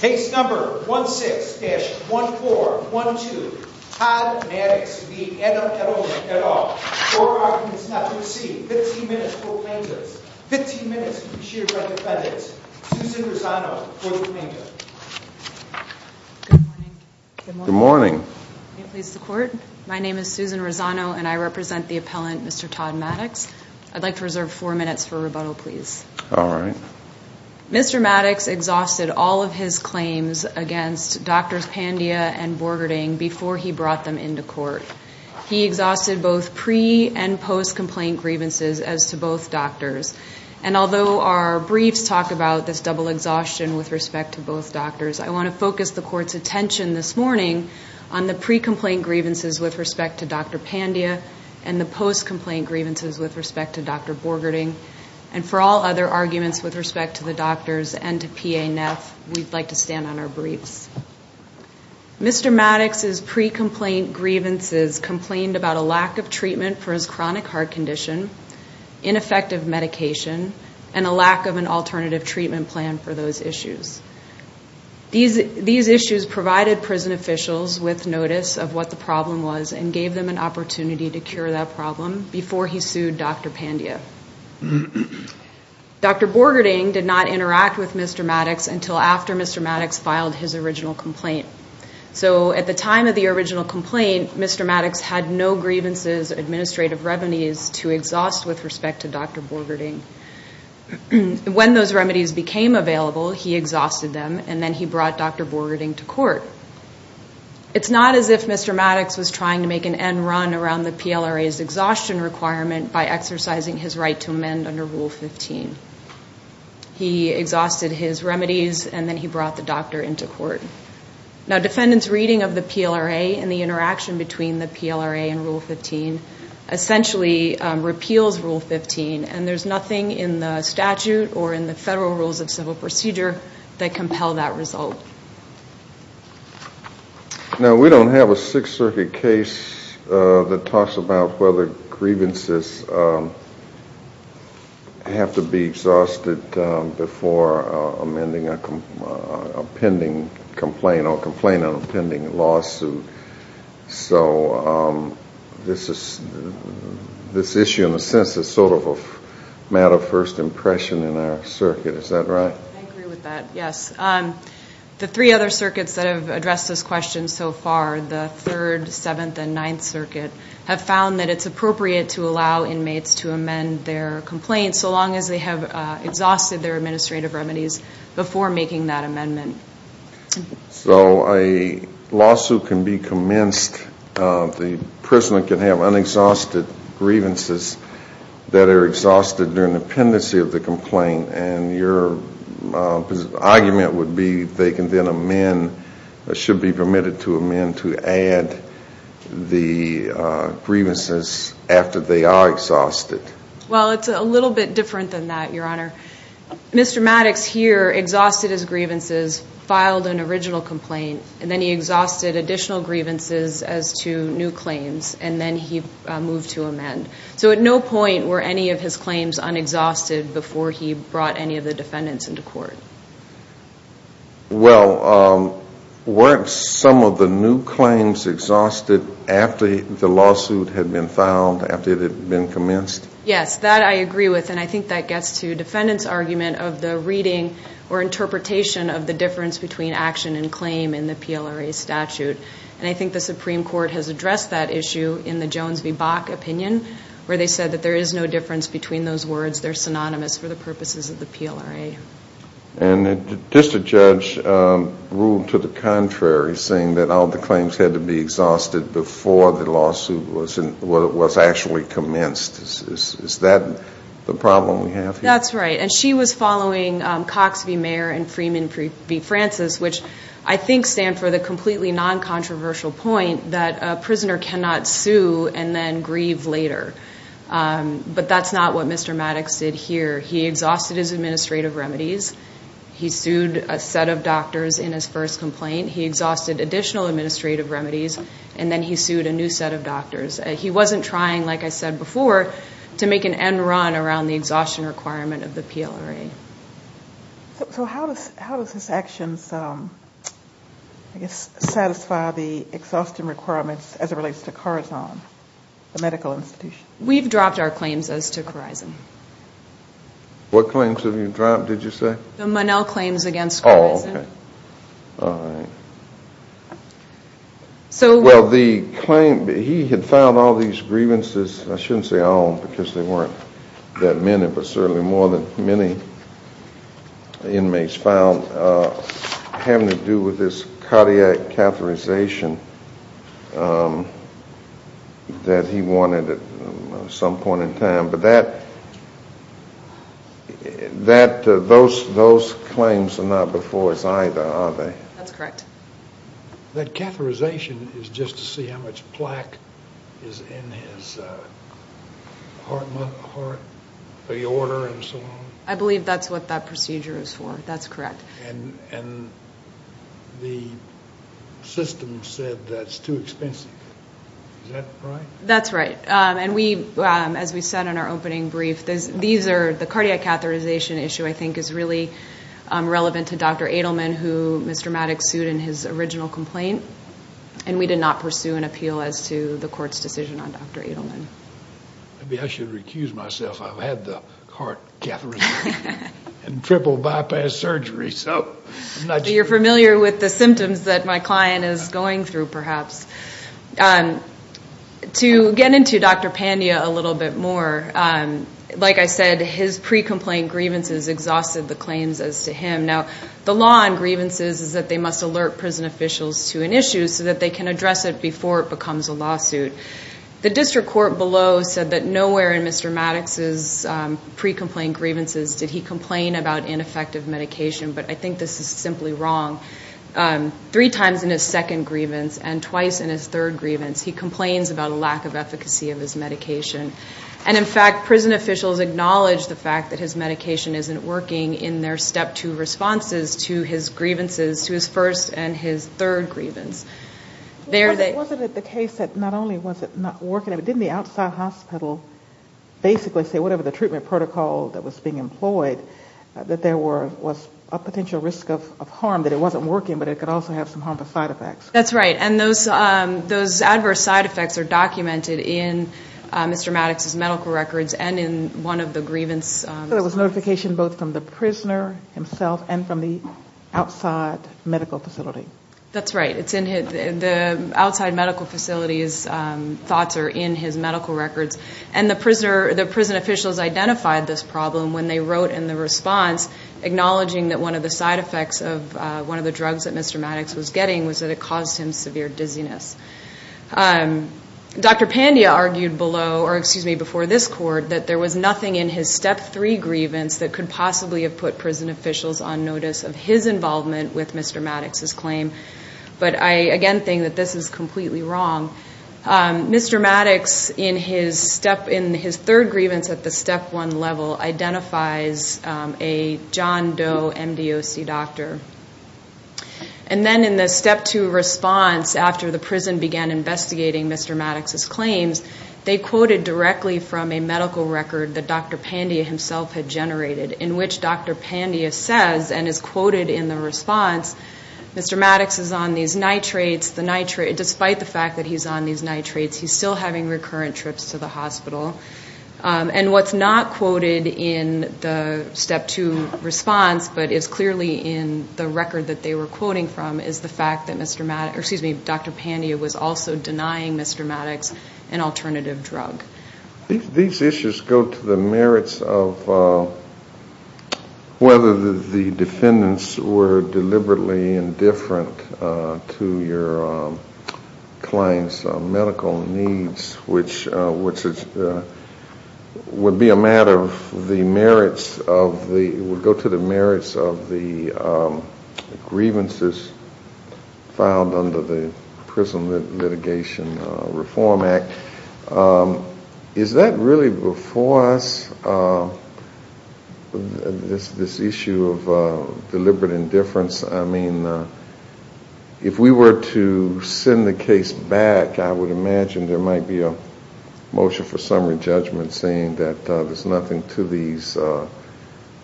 Case number 16-1412. Todd Mattox v. Adam Edelman et al. Four arguments not to be seen. 15 minutes for plaintiffs. 15 minutes to be sheared by defendants. Susan Rosano for the plaintiff. Good morning. Good morning. May it please the court. My name is Susan Rosano and I represent the appellant Mr. Todd Mattox. I'd like to reserve four minutes for rebuttal please. All right. Mr. Mattox exhausted all of his claims against Drs. Pandia and Borgerding before he brought them into court. He exhausted both pre- and post-complaint grievances as to both doctors. And although our briefs talk about this double exhaustion with respect to both doctors, I want to focus the court's attention this morning on the pre-complaint grievances with respect to Dr. Pandia and the post-complaint grievances with respect to Dr. Borgerding. And for all other arguments with respect to the doctors and to P.A. Neff, we'd like to stand on our briefs. Mr. Mattox's pre-complaint grievances complained about a lack of treatment for his chronic heart condition, ineffective medication, and a lack of an alternative treatment plan for those issues. These issues provided prison officials with notice of what the problem was and gave them an opportunity to cure that problem before he sued Dr. Pandia. Dr. Borgerding did not interact with Mr. Mattox until after Mr. Mattox filed his original complaint. So at the time of the original complaint, Mr. Mattox had no grievances or administrative remedies to exhaust with respect to Dr. Borgerding. When those remedies became available, he exhausted them and then he brought Dr. Borgerding to court. It's not as if Mr. Mattox was trying to make an end run around the PLRA's exhaustion requirement by exercising his right to amend under Rule 15. He exhausted his remedies and then he brought the doctor into court. Now defendants' reading of the PLRA and the interaction between the PLRA and Rule 15 essentially repeals Rule 15 and there's nothing in the statute or in the Federal Rules of Civil Procedure that compel that result. Now we don't have a Sixth Circuit case that talks about whether grievances have to be exhausted before amending a pending complaint or a complaint on a pending lawsuit. So this issue in a sense is sort of a matter of first impression in our circuit. Is that right? I agree with that, yes. The three other circuits that have addressed this question so far, the Third, Seventh, and Ninth Circuit, have found that it's appropriate to allow inmates to amend their complaints so long as they have exhausted their administrative remedies before making that amendment. So a lawsuit can be commenced, the prisoner can have unexhausted grievances that are exhausted during the pendency of the complaint and your argument would be they can then amend, should be permitted to amend, to add the grievances after they are exhausted. Well, it's a little bit different than that, Your Honor. Mr. Maddox here exhausted his grievances, filed an original complaint, and then he exhausted additional grievances as to new claims and then he moved to amend. So at no point were any of his claims unexhausted before he brought any of the defendants into court. Well, weren't some of the new claims exhausted after the lawsuit had been filed, after it had been commenced? Yes, that I agree with and I think that gets to defendants' argument of the reading or interpretation of the difference between action and claim in the PLRA statute. And I think the Supreme Court has addressed that issue in the Jones v. Bach opinion where they said that there is no difference between those words, they're synonymous for the purposes of the PLRA. And just a judge ruled to the contrary saying that all the claims had to be exhausted before the lawsuit was actually commenced. Is that the problem we have here? He sued a set of doctors in his first complaint. He exhausted additional administrative remedies and then he sued a new set of doctors. He wasn't trying, like I said before, to make an end run around the exhaustion requirement of the PLRA. So how does his actions, I guess, satisfy the exhaustion requirements as it relates to Corizon, the medical institution? We've dropped our claims as to Corizon. What claims have you dropped, did you say? The Monell claims against Corizon. All right. Well, the claim, he had filed all these grievances, I shouldn't say all because there weren't that many, but certainly more than many inmates filed having to do with this cardiac catheterization that he wanted at some point in time. But those claims are not before us either, are they? That's correct. That catheterization is just to see how much plaque is in his heart, the order and so on? I believe that's what that procedure is for. That's correct. And the system said that's too expensive. Is that right? That's right. And as we said in our opening brief, the cardiac catheterization issue, I think, is really relevant to Dr. Adelman, who Mr. Maddox sued in his original complaint. And we did not pursue an appeal as to the court's decision on Dr. Adelman. Maybe I should recuse myself. I've had the heart catheterization and triple bypass surgery. You're familiar with the symptoms that my client is going through, perhaps. To get into Dr. Pandya a little bit more, like I said, his pre-complaint grievances exhausted the claims as to him. Now, the law on grievances is that they must alert prison officials to an issue so that they can address it before it becomes a lawsuit. The district court below said that nowhere in Mr. Maddox's pre-complaint grievances did he complain about ineffective medication, but I think this is simply wrong. Three times in his second grievance and twice in his third grievance, he complains about a lack of efficacy of his medication. And in fact, prison officials acknowledge the fact that his medication isn't working in their step two responses to his grievances, to his first and his third grievance. Wasn't it the case that not only was it not working, but didn't the outside hospital basically say whatever the treatment protocol that was being employed, that there was a potential risk of harm, that it wasn't working, but it could also have some harmful side effects? That's right. And those adverse side effects are documented in Mr. Maddox's medical records and in one of the grievance. So it was notification both from the prisoner himself and from the outside medical facility? That's right. The outside medical facility's thoughts are in his medical records. And the prison officials identified this problem when they wrote in the response acknowledging that one of the side effects of one of the drugs that Mr. Maddox was getting was that it caused him severe dizziness. Dr. Pandya argued before this court that there was nothing in his step three grievance that could possibly have put prison officials on notice of his involvement with Mr. Maddox's claim. But I again think that this is completely wrong. Mr. Maddox, in his third grievance at the step one level, identifies a John Doe MDOC doctor. And then in the step two response after the prison began investigating Mr. Maddox's claims, they quoted directly from a medical record that Dr. Pandya himself had generated, in which Dr. Pandya says and is quoted in the response, Mr. Maddox is on these nitrates, despite the fact that he's on these nitrates, he's still having recurrent trips to the hospital. And what's not quoted in the step two response, but is clearly in the record that they were quoting from, is the fact that Dr. Pandya was also denying Mr. Maddox an alternative drug. These issues go to the merits of whether the defendants were deliberately indifferent to your client's medical needs, which would be a matter of the merits of the grievances filed under the Prison Litigation Reform Act. Is that really before us, this issue of deliberate indifference? I mean, if we were to send the case back, I would imagine there might be a motion for summary judgment saying that there's nothing to these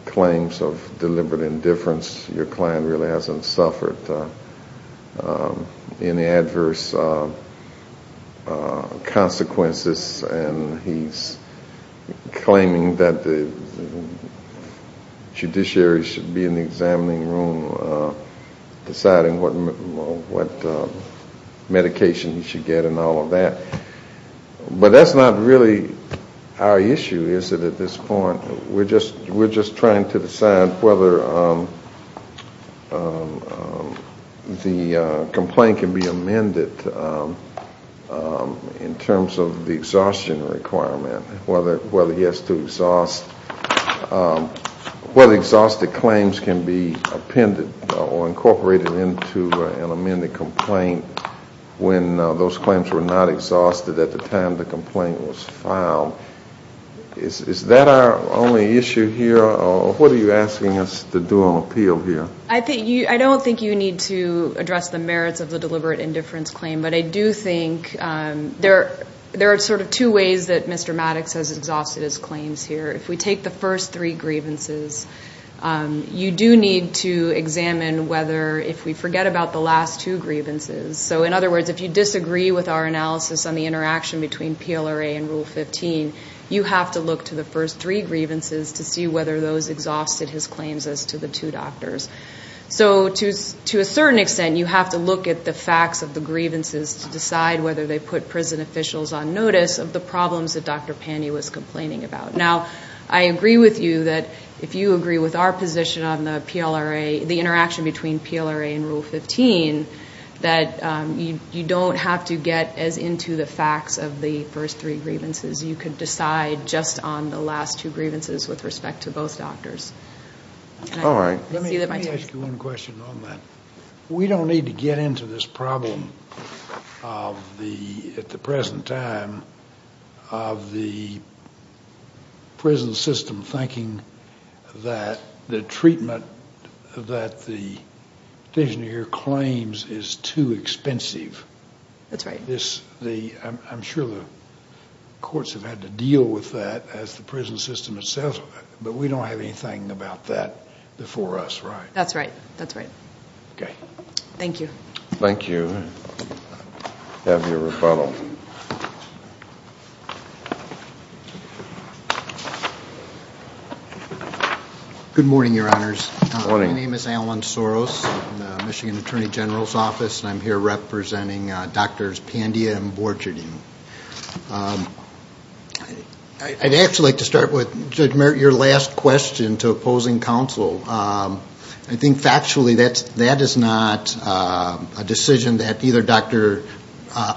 claims of deliberate indifference. Your client really hasn't suffered any adverse consequences and he's claiming that the judiciary should be in the examining room deciding what medication he should get and all of that. But that's not really our issue, is it, at this point. We're just trying to decide whether the complaint can be amended in terms of the exhaustion requirement. Whether he has to exhaust, whether exhausted claims can be appended or incorporated into an amended complaint when those claims were not exhausted at the time the complaint was filed. Is that our only issue here, or what are you asking us to do on appeal here? I don't think you need to address the merits of the deliberate indifference claim, but I do think there are sort of two ways that Mr. Maddox has exhausted his claims here. If we take the first three grievances, you do need to examine whether if we forget about the last two grievances. So in other words, if you disagree with our analysis on the interaction between PLRA and Rule 15, you have to look to the first three grievances to see whether those exhausted his claims as to the two doctors. So to a certain extent, you have to look at the facts of the grievances to decide whether they put prison officials on notice of the problems that Dr. Pandy was complaining about. Now, I agree with you that if you agree with our position on the PLRA, the interaction between PLRA and Rule 15, that you don't have to get as into the facts of the first three grievances. You could decide just on the last two grievances with respect to both doctors. All right. Let me ask you one question on that. We don't need to get into this problem at the present time of the prison system thinking that the treatment that the petitioner here claims is too expensive. That's right. I'm sure the courts have had to deal with that as the prison system itself, but we don't have anything about that before us, right? That's right. That's right. Okay. Thank you. Thank you. Have your rebuttal. Good morning, Your Honors. Good morning. My name is Alan Soros, Michigan Attorney General's Office, and I'm here representing Drs. Pandy and Borchardine. I'd actually like to start with, Judge Merritt, your last question to opposing counsel. I think factually that is not a decision that either Dr.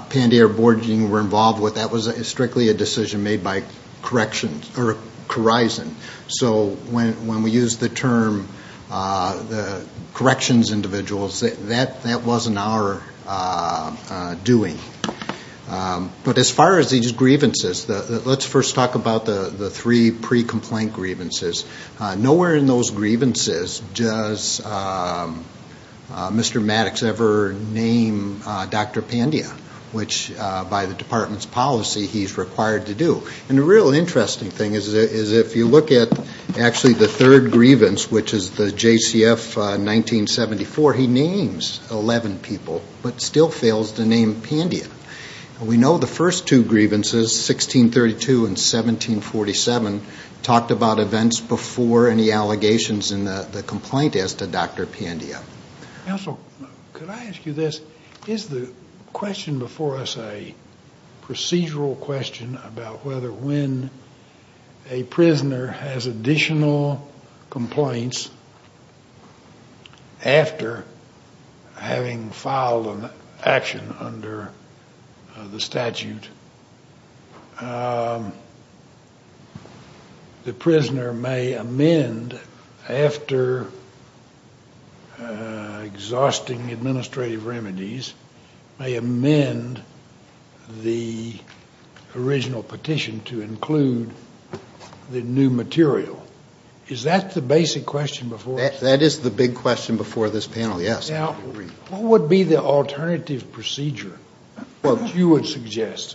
Pandy or Borchardine were involved with. That was strictly a decision made by corrections or Corizon. So when we use the term corrections individuals, that wasn't our doing. But as far as these grievances, let's first talk about the three pre-complaint grievances. Nowhere in those grievances does Mr. Maddox ever name Dr. Pandy, which by the department's policy he's required to do. And the real interesting thing is if you look at actually the third grievance, which is the JCF 1974, he names 11 people but still fails to name Pandy. And we know the first two grievances, 1632 and 1747, talked about events before any allegations in the complaint as to Dr. Pandy. Counsel, could I ask you this? Is the question before us a procedural question about whether when a prisoner has additional complaints after having filed an action under the statute, the prisoner may amend after exhausting administrative remedies, may amend the original petition to include the new material? Is that the basic question before us? That is the big question before this panel, yes. Now, what would be the alternative procedure that you would suggest?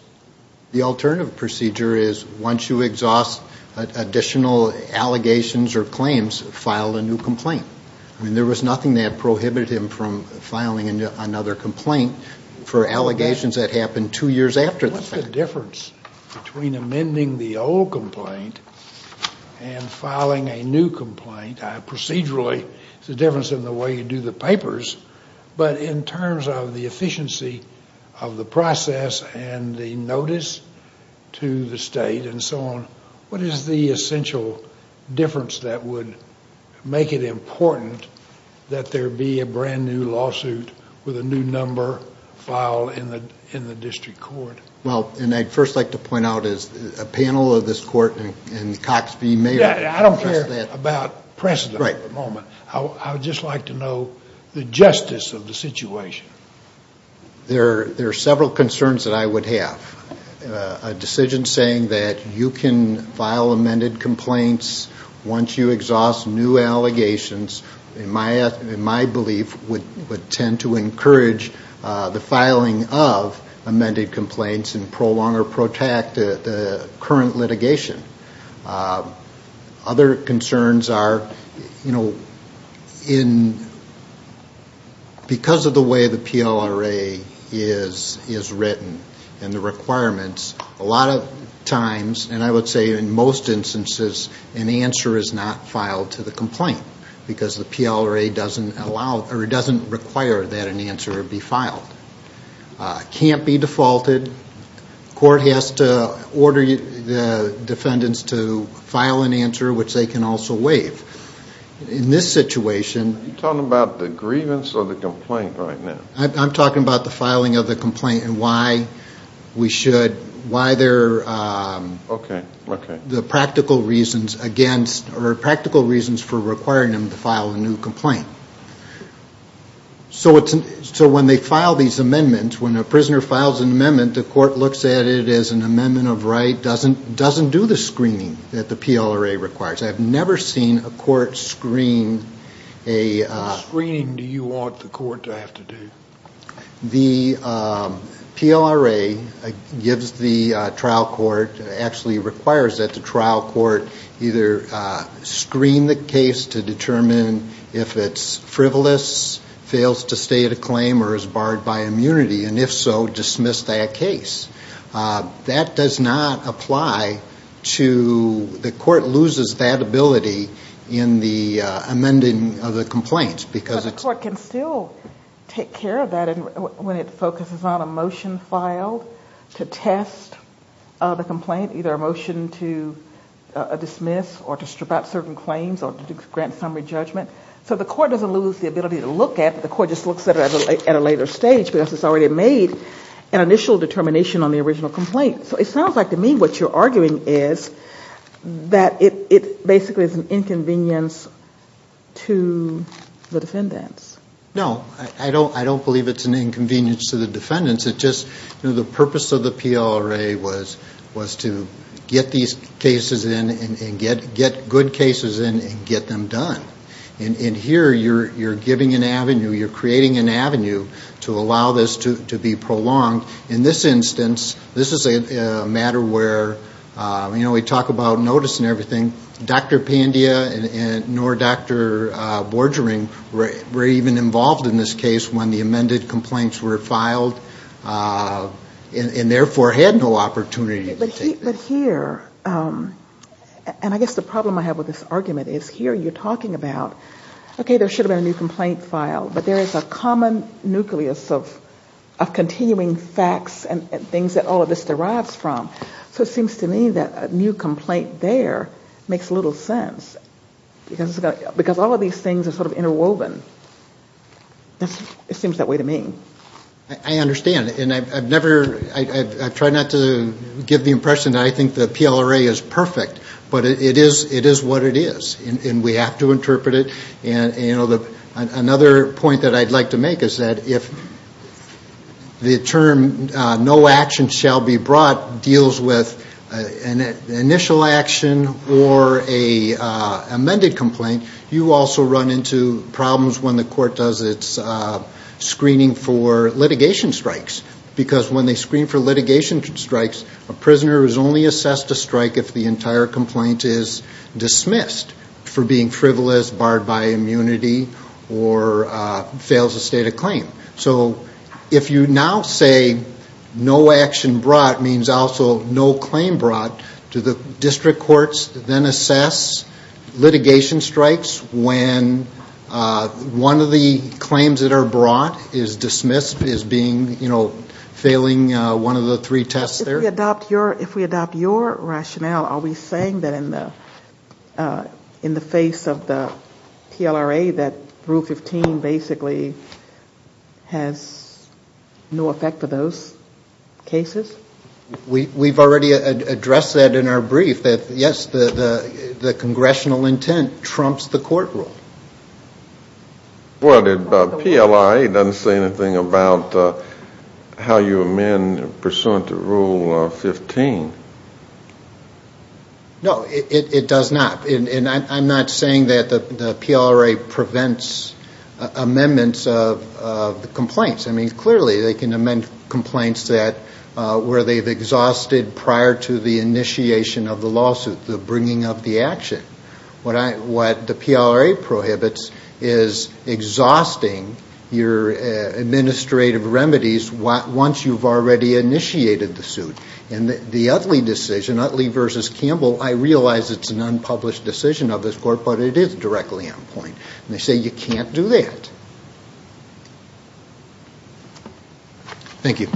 The alternative procedure is once you exhaust additional allegations or claims, file a new complaint. I mean, there was nothing that prohibited him from filing another complaint for allegations that happened two years after the fact. What's the difference between amending the old complaint and filing a new complaint? Procedurally, there's a difference in the way you do the papers, but in terms of the efficiency of the process and the notice to the state and so on, what is the essential difference that would make it important that there be a brand new lawsuit with a new number filed in the district court? Well, and I'd first like to point out as a panel of this court and Cox v. Mayer. I don't care about precedent at the moment. I would just like to know the justice of the situation. There are several concerns that I would have. A decision saying that you can file amended complaints once you exhaust new allegations, in my belief, would tend to encourage the filing of amended complaints and prolong or protect the current litigation. Other concerns are because of the way the PLRA is written and the requirements, a lot of times, and I would say in most instances, an answer is not filed to the complaint because the PLRA doesn't require that an answer be filed. It can't be defaulted. The court has to order the defendants to file an answer, which they can also waive. In this situation... Are you talking about the grievance or the complaint right now? I'm talking about the filing of the complaint and why we should, why there are the practical reasons against or practical reasons for requiring them to file a new complaint. So when they file these amendments, when a prisoner files an amendment, the court looks at it as an amendment of right, doesn't do the screening that the PLRA requires. I've never seen a court screen a... What screening do you want the court to have to do? The PLRA gives the trial court, actually requires that the trial court either screen the case to determine if it's frivolous, fails to state a claim, or is barred by immunity, and if so, dismiss that case. That does not apply to... The court loses that ability in the amending of the complaint because it's... It's aware of that when it focuses on a motion filed to test the complaint, either a motion to dismiss or to strip out certain claims or to grant summary judgment. So the court doesn't lose the ability to look at it. The court just looks at it at a later stage because it's already made an initial determination on the original complaint. So it sounds like to me what you're arguing is that it basically is an inconvenience to the defendants. No, I don't believe it's an inconvenience to the defendants. It's just the purpose of the PLRA was to get these cases in and get good cases in and get them done. And here you're giving an avenue, you're creating an avenue to allow this to be prolonged. In this instance, this is a matter where we talk about notice and everything. Dr. Pandya nor Dr. Borgering were even involved in this case when the amended complaints were filed and therefore had no opportunity to take them. But here, and I guess the problem I have with this argument is here you're talking about, okay, there should have been a new complaint filed, but there is a common nucleus of continuing facts and things that all of this derives from. So it seems to me that a new complaint there makes little sense because all of these things are sort of interwoven. It seems that way to me. I understand, and I've tried not to give the impression that I think the PLRA is perfect, but it is what it is. And we have to interpret it. Another point that I'd like to make is that if the term no action shall be brought deals with an initial action or an amended complaint, you also run into problems when the court does its screening for litigation strikes. Because when they screen for litigation strikes, a prisoner is only assessed a strike if the entire complaint is dismissed for being frivolous, barred by immunity, or fails a state of claim. So if you now say no action brought means also no claim brought, do the district courts then assess litigation strikes when one of the claims that are brought is dismissed as being, you know, failing one of the three tests there? If we adopt your rationale, are we saying that in the face of the PLRA that Rule 15 basically has no effect for those cases? We've already addressed that in our brief, that yes, the congressional intent trumps the court rule. Well, the PLRA doesn't say anything about how you amend pursuant to Rule 15. No, it does not. And I'm not saying that the PLRA prevents amendments of the complaints. I mean, clearly they can amend complaints where they've exhausted prior to the initiation of the lawsuit the bringing of the action. What the PLRA prohibits is exhausting your administrative remedies once you've already initiated the suit. And the Utley decision, Utley v. Campbell, I realize it's an unpublished decision of this court, but it is directly on point. And they say you can't do that. Thank you.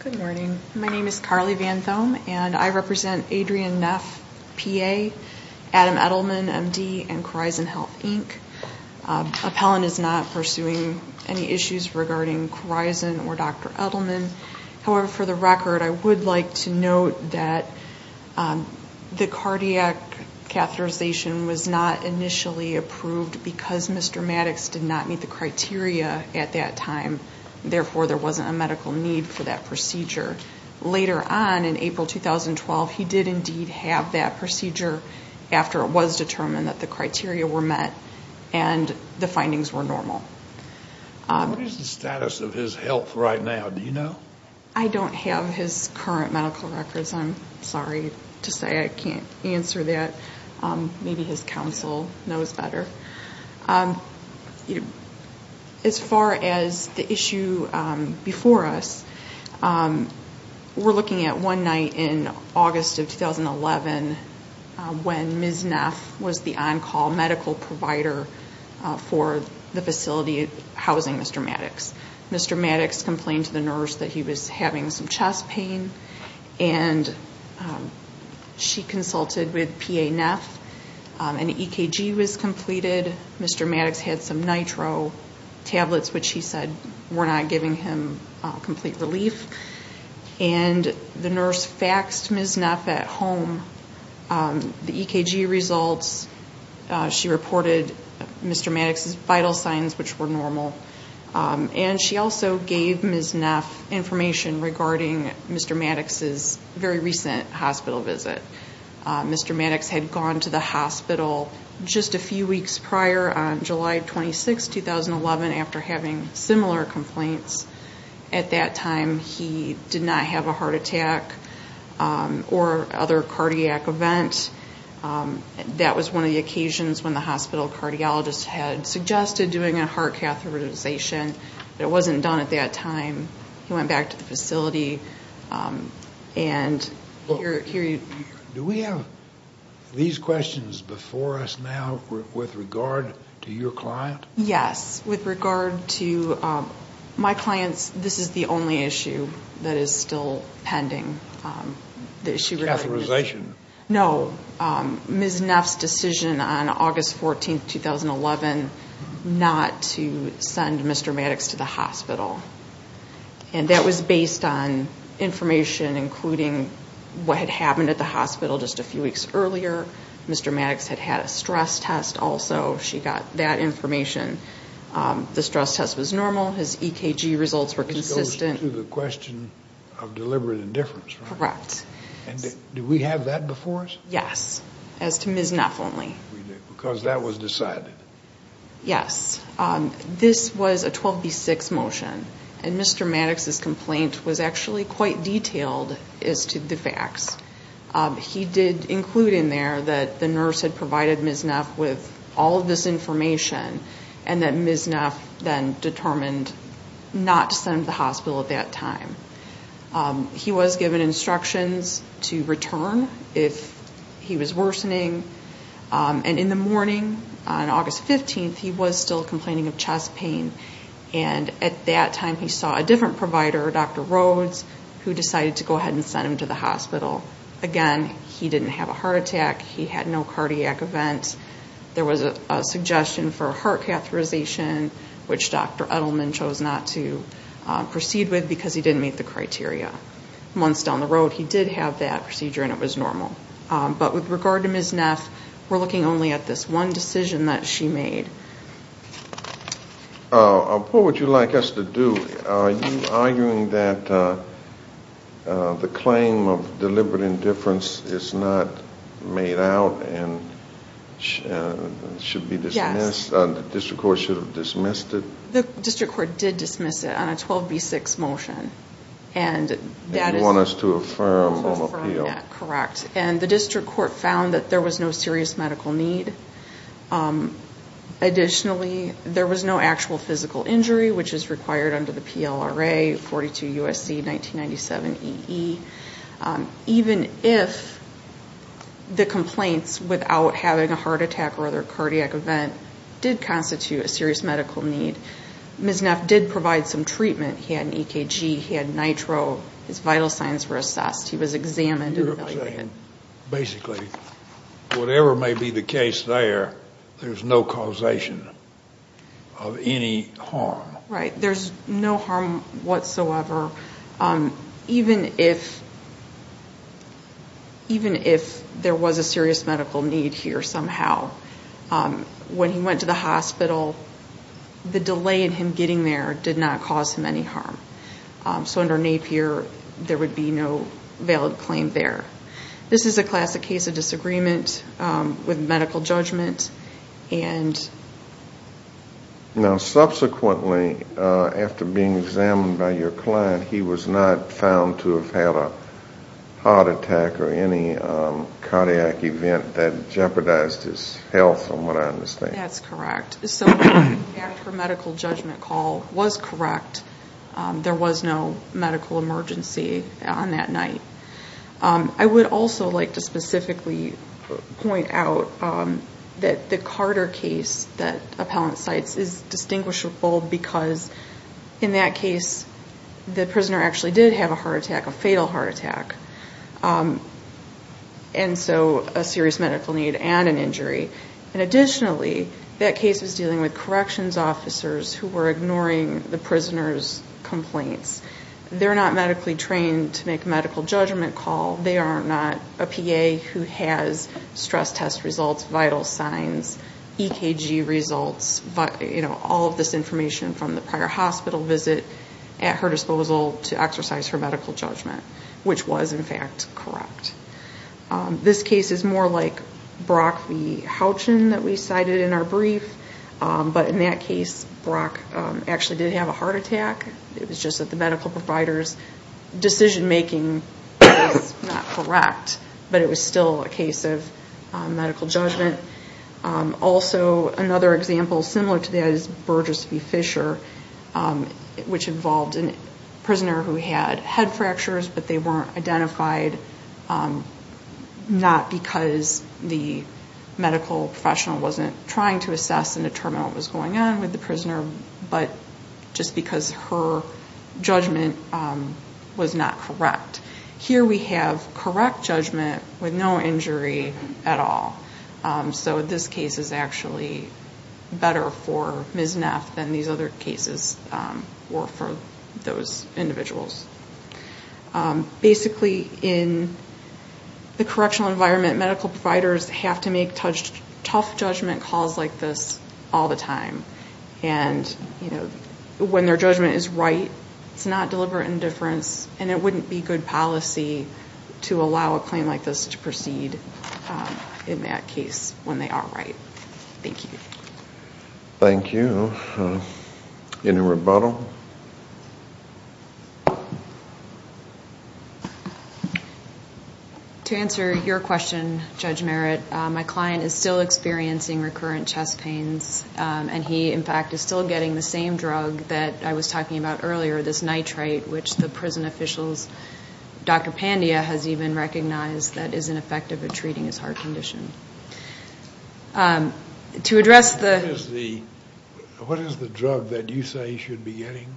Good morning. My name is Carly Van Thome, and I represent Adrian Neff, P.A., Adam Edelman, M.D., and Khorizan Health, Inc. Appellant is not pursuing any issues regarding Khorizan or Dr. Edelman. However, for the record, I would like to note that the cardiac catheterization was not initially approved because Mr. Maddow, the cardiac cardiologist, was not able to meet the criteria at that time. Therefore, there wasn't a medical need for that procedure. Later on in April 2012, he did indeed have that procedure after it was determined that the criteria were met and the findings were normal. What is the status of his health right now? Do you know? I don't have his current medical records. I'm sorry to say I can't answer that. Maybe his counsel knows better. As far as the issue before us, we're looking at one night in August of 2011 when Ms. Neff was the on-call medical provider for the facility housing Mr. Maddox. Mr. Maddox complained to the nurse that he was having some chest pain and she consulted with P.A. Neff. An EKG was completed. Mr. Maddox had some nitro tablets, which he said were not giving him complete relief. And the nurse faxed Ms. Neff at home the EKG results. She reported Mr. Maddox's vital signs, which were normal. And she also gave Ms. Neff information regarding Mr. Maddox's very recent hospital visit. Mr. Maddox had gone to the hospital just a few weeks prior on July 26, 2011 after having similar complaints. At that time, he did not have a heart attack or other cardiac event. He did have one of the occasions when the hospital cardiologist had suggested doing a heart catheterization, but it wasn't done at that time. He went back to the facility. Do we have these questions before us now with regard to your client? Yes. With regard to my client's, this is the only issue that is still pending. Catheterization? No. Ms. Neff's decision on August 14, 2011 not to send Mr. Maddox to the hospital. And that was based on information including what had happened at the hospital just a few weeks earlier. Mr. Maddox had had a stress test also. She got that information. The stress test was normal. His EKG results were consistent. This goes to the question of deliberate indifference, right? Correct. And do we have that before us? Yes. As to Ms. Neff only. Because that was decided. Yes. This was a 12B6 motion. And Mr. Maddox's complaint was actually quite detailed as to the facts. He did include in there that the nurse had provided Ms. Neff with all of this information and that Ms. Neff then determined not to send him to the hospital at that time. He was given instructions to return if he was worsening. And in the morning on August 15, he was still complaining of chest pain. And at that time he saw a different provider, Dr. Rhodes, who decided to go ahead and send him to the hospital. Again, he didn't have a heart attack. He had no cardiac events. There was a suggestion for a heart catheterization, which Dr. Edelman chose not to proceed with because he didn't meet the criteria. Months down the road he did have that procedure and it was normal. But with regard to Ms. Neff, we're looking only at this one decision that she made. What would you like us to do? Are you arguing that the claim of deliberate indifference is not made out and should be dismissed? Yes. The district court should have dismissed it? The district court did dismiss it on a 12B6 motion. And you want us to affirm on appeal? Correct. And the district court found that there was no serious medical need. Additionally, there was no actual physical injury, which is required under the PLRA 42 U.S.C. 1997 E.E. Even if the complaints without having a heart attack or other cardiac event did constitute a serious medical need, Ms. Neff did provide some treatment. He had an EKG. He had nitro. His vital signs were assessed. He was examined and evaluated. Basically, whatever may be the case there, there's no causation of any harm. Right. There's no harm whatsoever. Even if there was a serious medical need here somehow, when he went to the hospital, the delay in him getting there did not cause him any harm. So under Napier, there would be no valid claim there. This is a classic case of disagreement with medical judgment. Now, subsequently, after being examined by your client, he was not found to have had a heart attack or any cardiac event that jeopardized his health, from what I understand. That's correct. So after medical judgment call was correct, there was no medical emergency on that night. I would also like to specifically point out that the Carter case that appellant cites is distinguishable because in that case, the prisoner actually did have a heart attack, a fatal heart attack, and so a serious medical need and an injury. And additionally, that case was dealing with corrections officers who were ignoring the prisoner's complaints. They're not medically trained to make a medical judgment call. They are not a PA who has stress test results, vital signs, EKG results, all of this information from the prior hospital visit at her disposal to exercise her medical judgment, which was, in fact, correct. This case is more like Brock v. Houchen that we cited in our brief, but in that case, Brock actually did have a heart attack. It was just that the medical provider's decision-making was not correct, but it was still a case of medical judgment. Also, another example similar to that is Burgess v. Fisher, which involved a prisoner who had head fractures, but they weren't identified not because the medical professional wasn't trying to assess and determine what was going on with the prisoner, but just because her judgment was not correct. Here we have correct judgment with no injury at all. So this case is actually better for Ms. Neff than these other cases were for those individuals. Basically, in the correctional environment, medical providers have to make tough judgment calls like this all the time. And when their judgment is right, it's not deliberate indifference, and it wouldn't be good policy to allow a claim like this to proceed in that case when they are right. Thank you. Thank you. Any rebuttal? To answer your question, Judge Merritt, my client is still experiencing recurrent chest pains, and he, in fact, is still getting the same drug that I was talking about earlier, this nitrite, which the prison officials, Dr. Pandya has even recognized that isn't effective at treating his heart condition. To address the- What is the drug that you say he should be getting?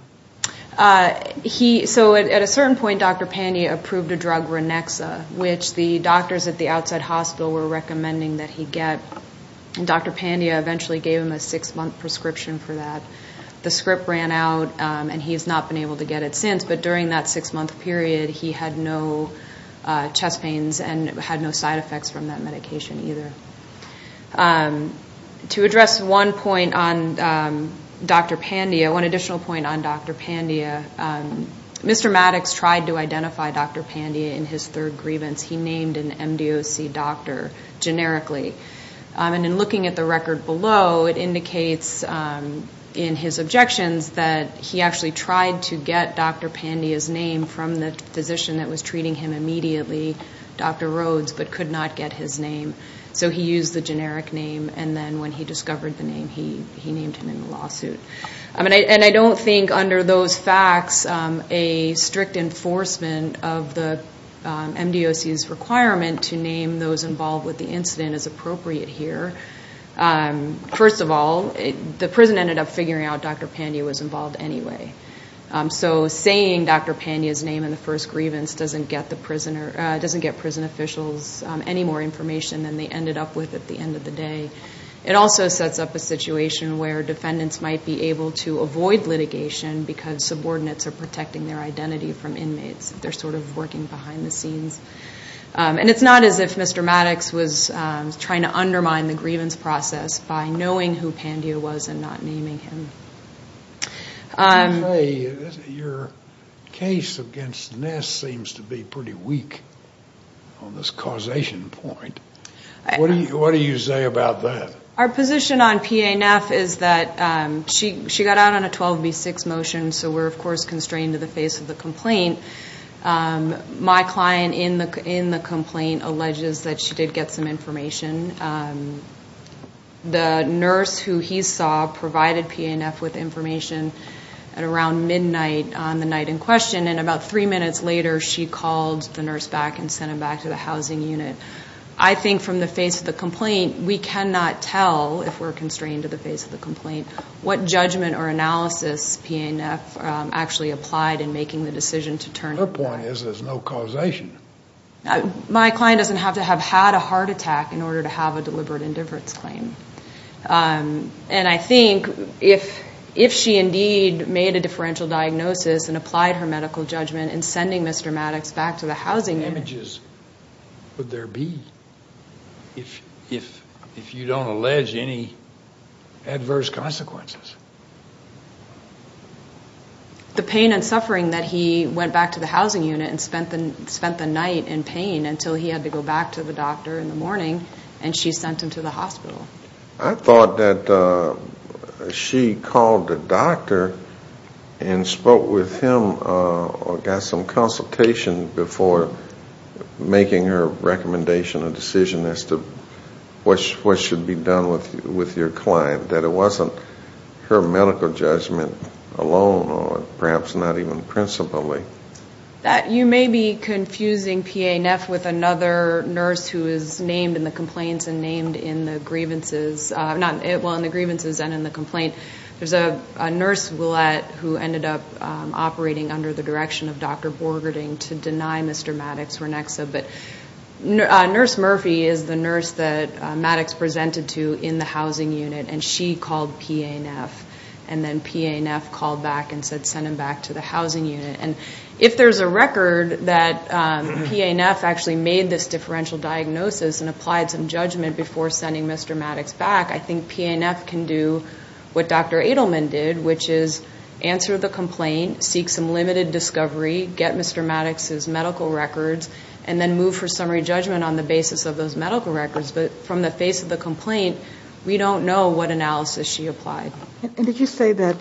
So at a certain point, Dr. Pandya approved a drug, Ronexa, which the doctors at the outside hospital were recommending that he get, and Dr. Pandya eventually gave him a six-month prescription for that. The script ran out, and he has not been able to get it since. But during that six-month period, he had no chest pains and had no side effects from that medication either. To address one point on Dr. Pandya, one additional point on Dr. Pandya, Mr. Maddox tried to identify Dr. Pandya in his third grievance. He named an MDOC doctor generically. And in looking at the record below, it indicates in his objections that he actually tried to get Dr. Pandya's name from the physician that was treating him immediately, Dr. Rhodes, but could not get his name. So he used the generic name, and then when he discovered the name, he named him in the lawsuit. And I don't think under those facts a strict enforcement of the MDOC's requirement to name those involved with the incident is appropriate here. First of all, the prison ended up figuring out Dr. Pandya was involved anyway. So saying Dr. Pandya's name in the first grievance doesn't get prison officials any more information than they ended up with at the end of the day. It also sets up a situation where defendants might be able to avoid litigation because subordinates are protecting their identity from inmates. They're sort of working behind the scenes. And it's not as if Mr. Maddox was trying to undermine the grievance process by knowing who Pandya was and not naming him. Your case against Ness seems to be pretty weak on this causation point. What do you say about that? Our position on PA Neff is that she got out on a 12B6 motion, so we're, of course, constrained to the face of the complaint. My client in the complaint alleges that she did get some information. The nurse who he saw provided PA Neff with information at around midnight on the night in question, and about three minutes later she called the nurse back and sent him back to the housing unit. I think from the face of the complaint we cannot tell, if we're constrained to the face of the complaint, what judgment or analysis PA Neff actually applied in making the decision to turn him over. Her point is there's no causation. My client doesn't have to have had a heart attack in order to have a deliberate indifference claim. And I think if she indeed made a differential diagnosis and applied her medical judgment in sending Mr. Maddox back to the housing unit. What damages would there be if you don't allege any adverse consequences? The pain and suffering that he went back to the housing unit and spent the night in pain until he had to go back to the doctor in the morning, and she sent him to the hospital. I thought that she called the doctor and spoke with him or got some consultation before making her recommendation or decision as to what should be done with your client, that it wasn't her medical judgment alone or perhaps not even principally. You may be confusing PA Neff with another nurse who is named in the complaints and named in the grievances and in the complaint. There's a nurse who ended up operating under the direction of Dr. Borgerding to deny Mr. Maddox Ronexa. But Nurse Murphy is the nurse that Maddox presented to in the housing unit, and she called PA Neff. And then PA Neff called back and said send him back to the housing unit. And if there's a record that PA Neff actually made this differential diagnosis and applied some judgment before sending Mr. Maddox back, I think PA Neff can do what Dr. Adelman did, which is answer the complaint, seek some limited discovery, get Mr. Maddox's medical records, and then move for summary judgment on the basis of those medical records. But from the face of the complaint, we don't know what analysis she applied. And did you say that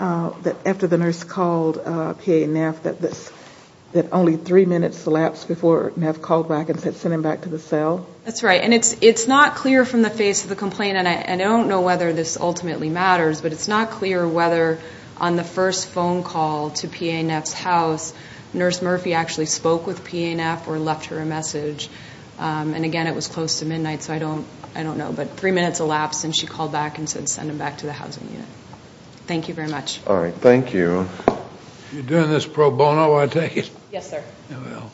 after the nurse called PA Neff that only three minutes elapsed before Neff called back and said send him back to the cell? That's right. And it's not clear from the face of the complaint, and I don't know whether this ultimately matters, but it's not clear whether on the first phone call to PA Neff's house, Nurse Murphy actually spoke with PA Neff or left her a message. And, again, it was close to midnight, so I don't know. But three minutes elapsed and she called back and said send him back to the housing unit. Thank you very much. All right. Thank you. You're doing this pro bono, I take it? Yes, sir. Well,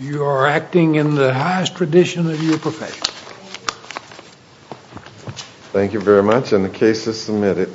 you are acting in the highest tradition of your profession. Thank you. Thank you very much, and the case is submitted.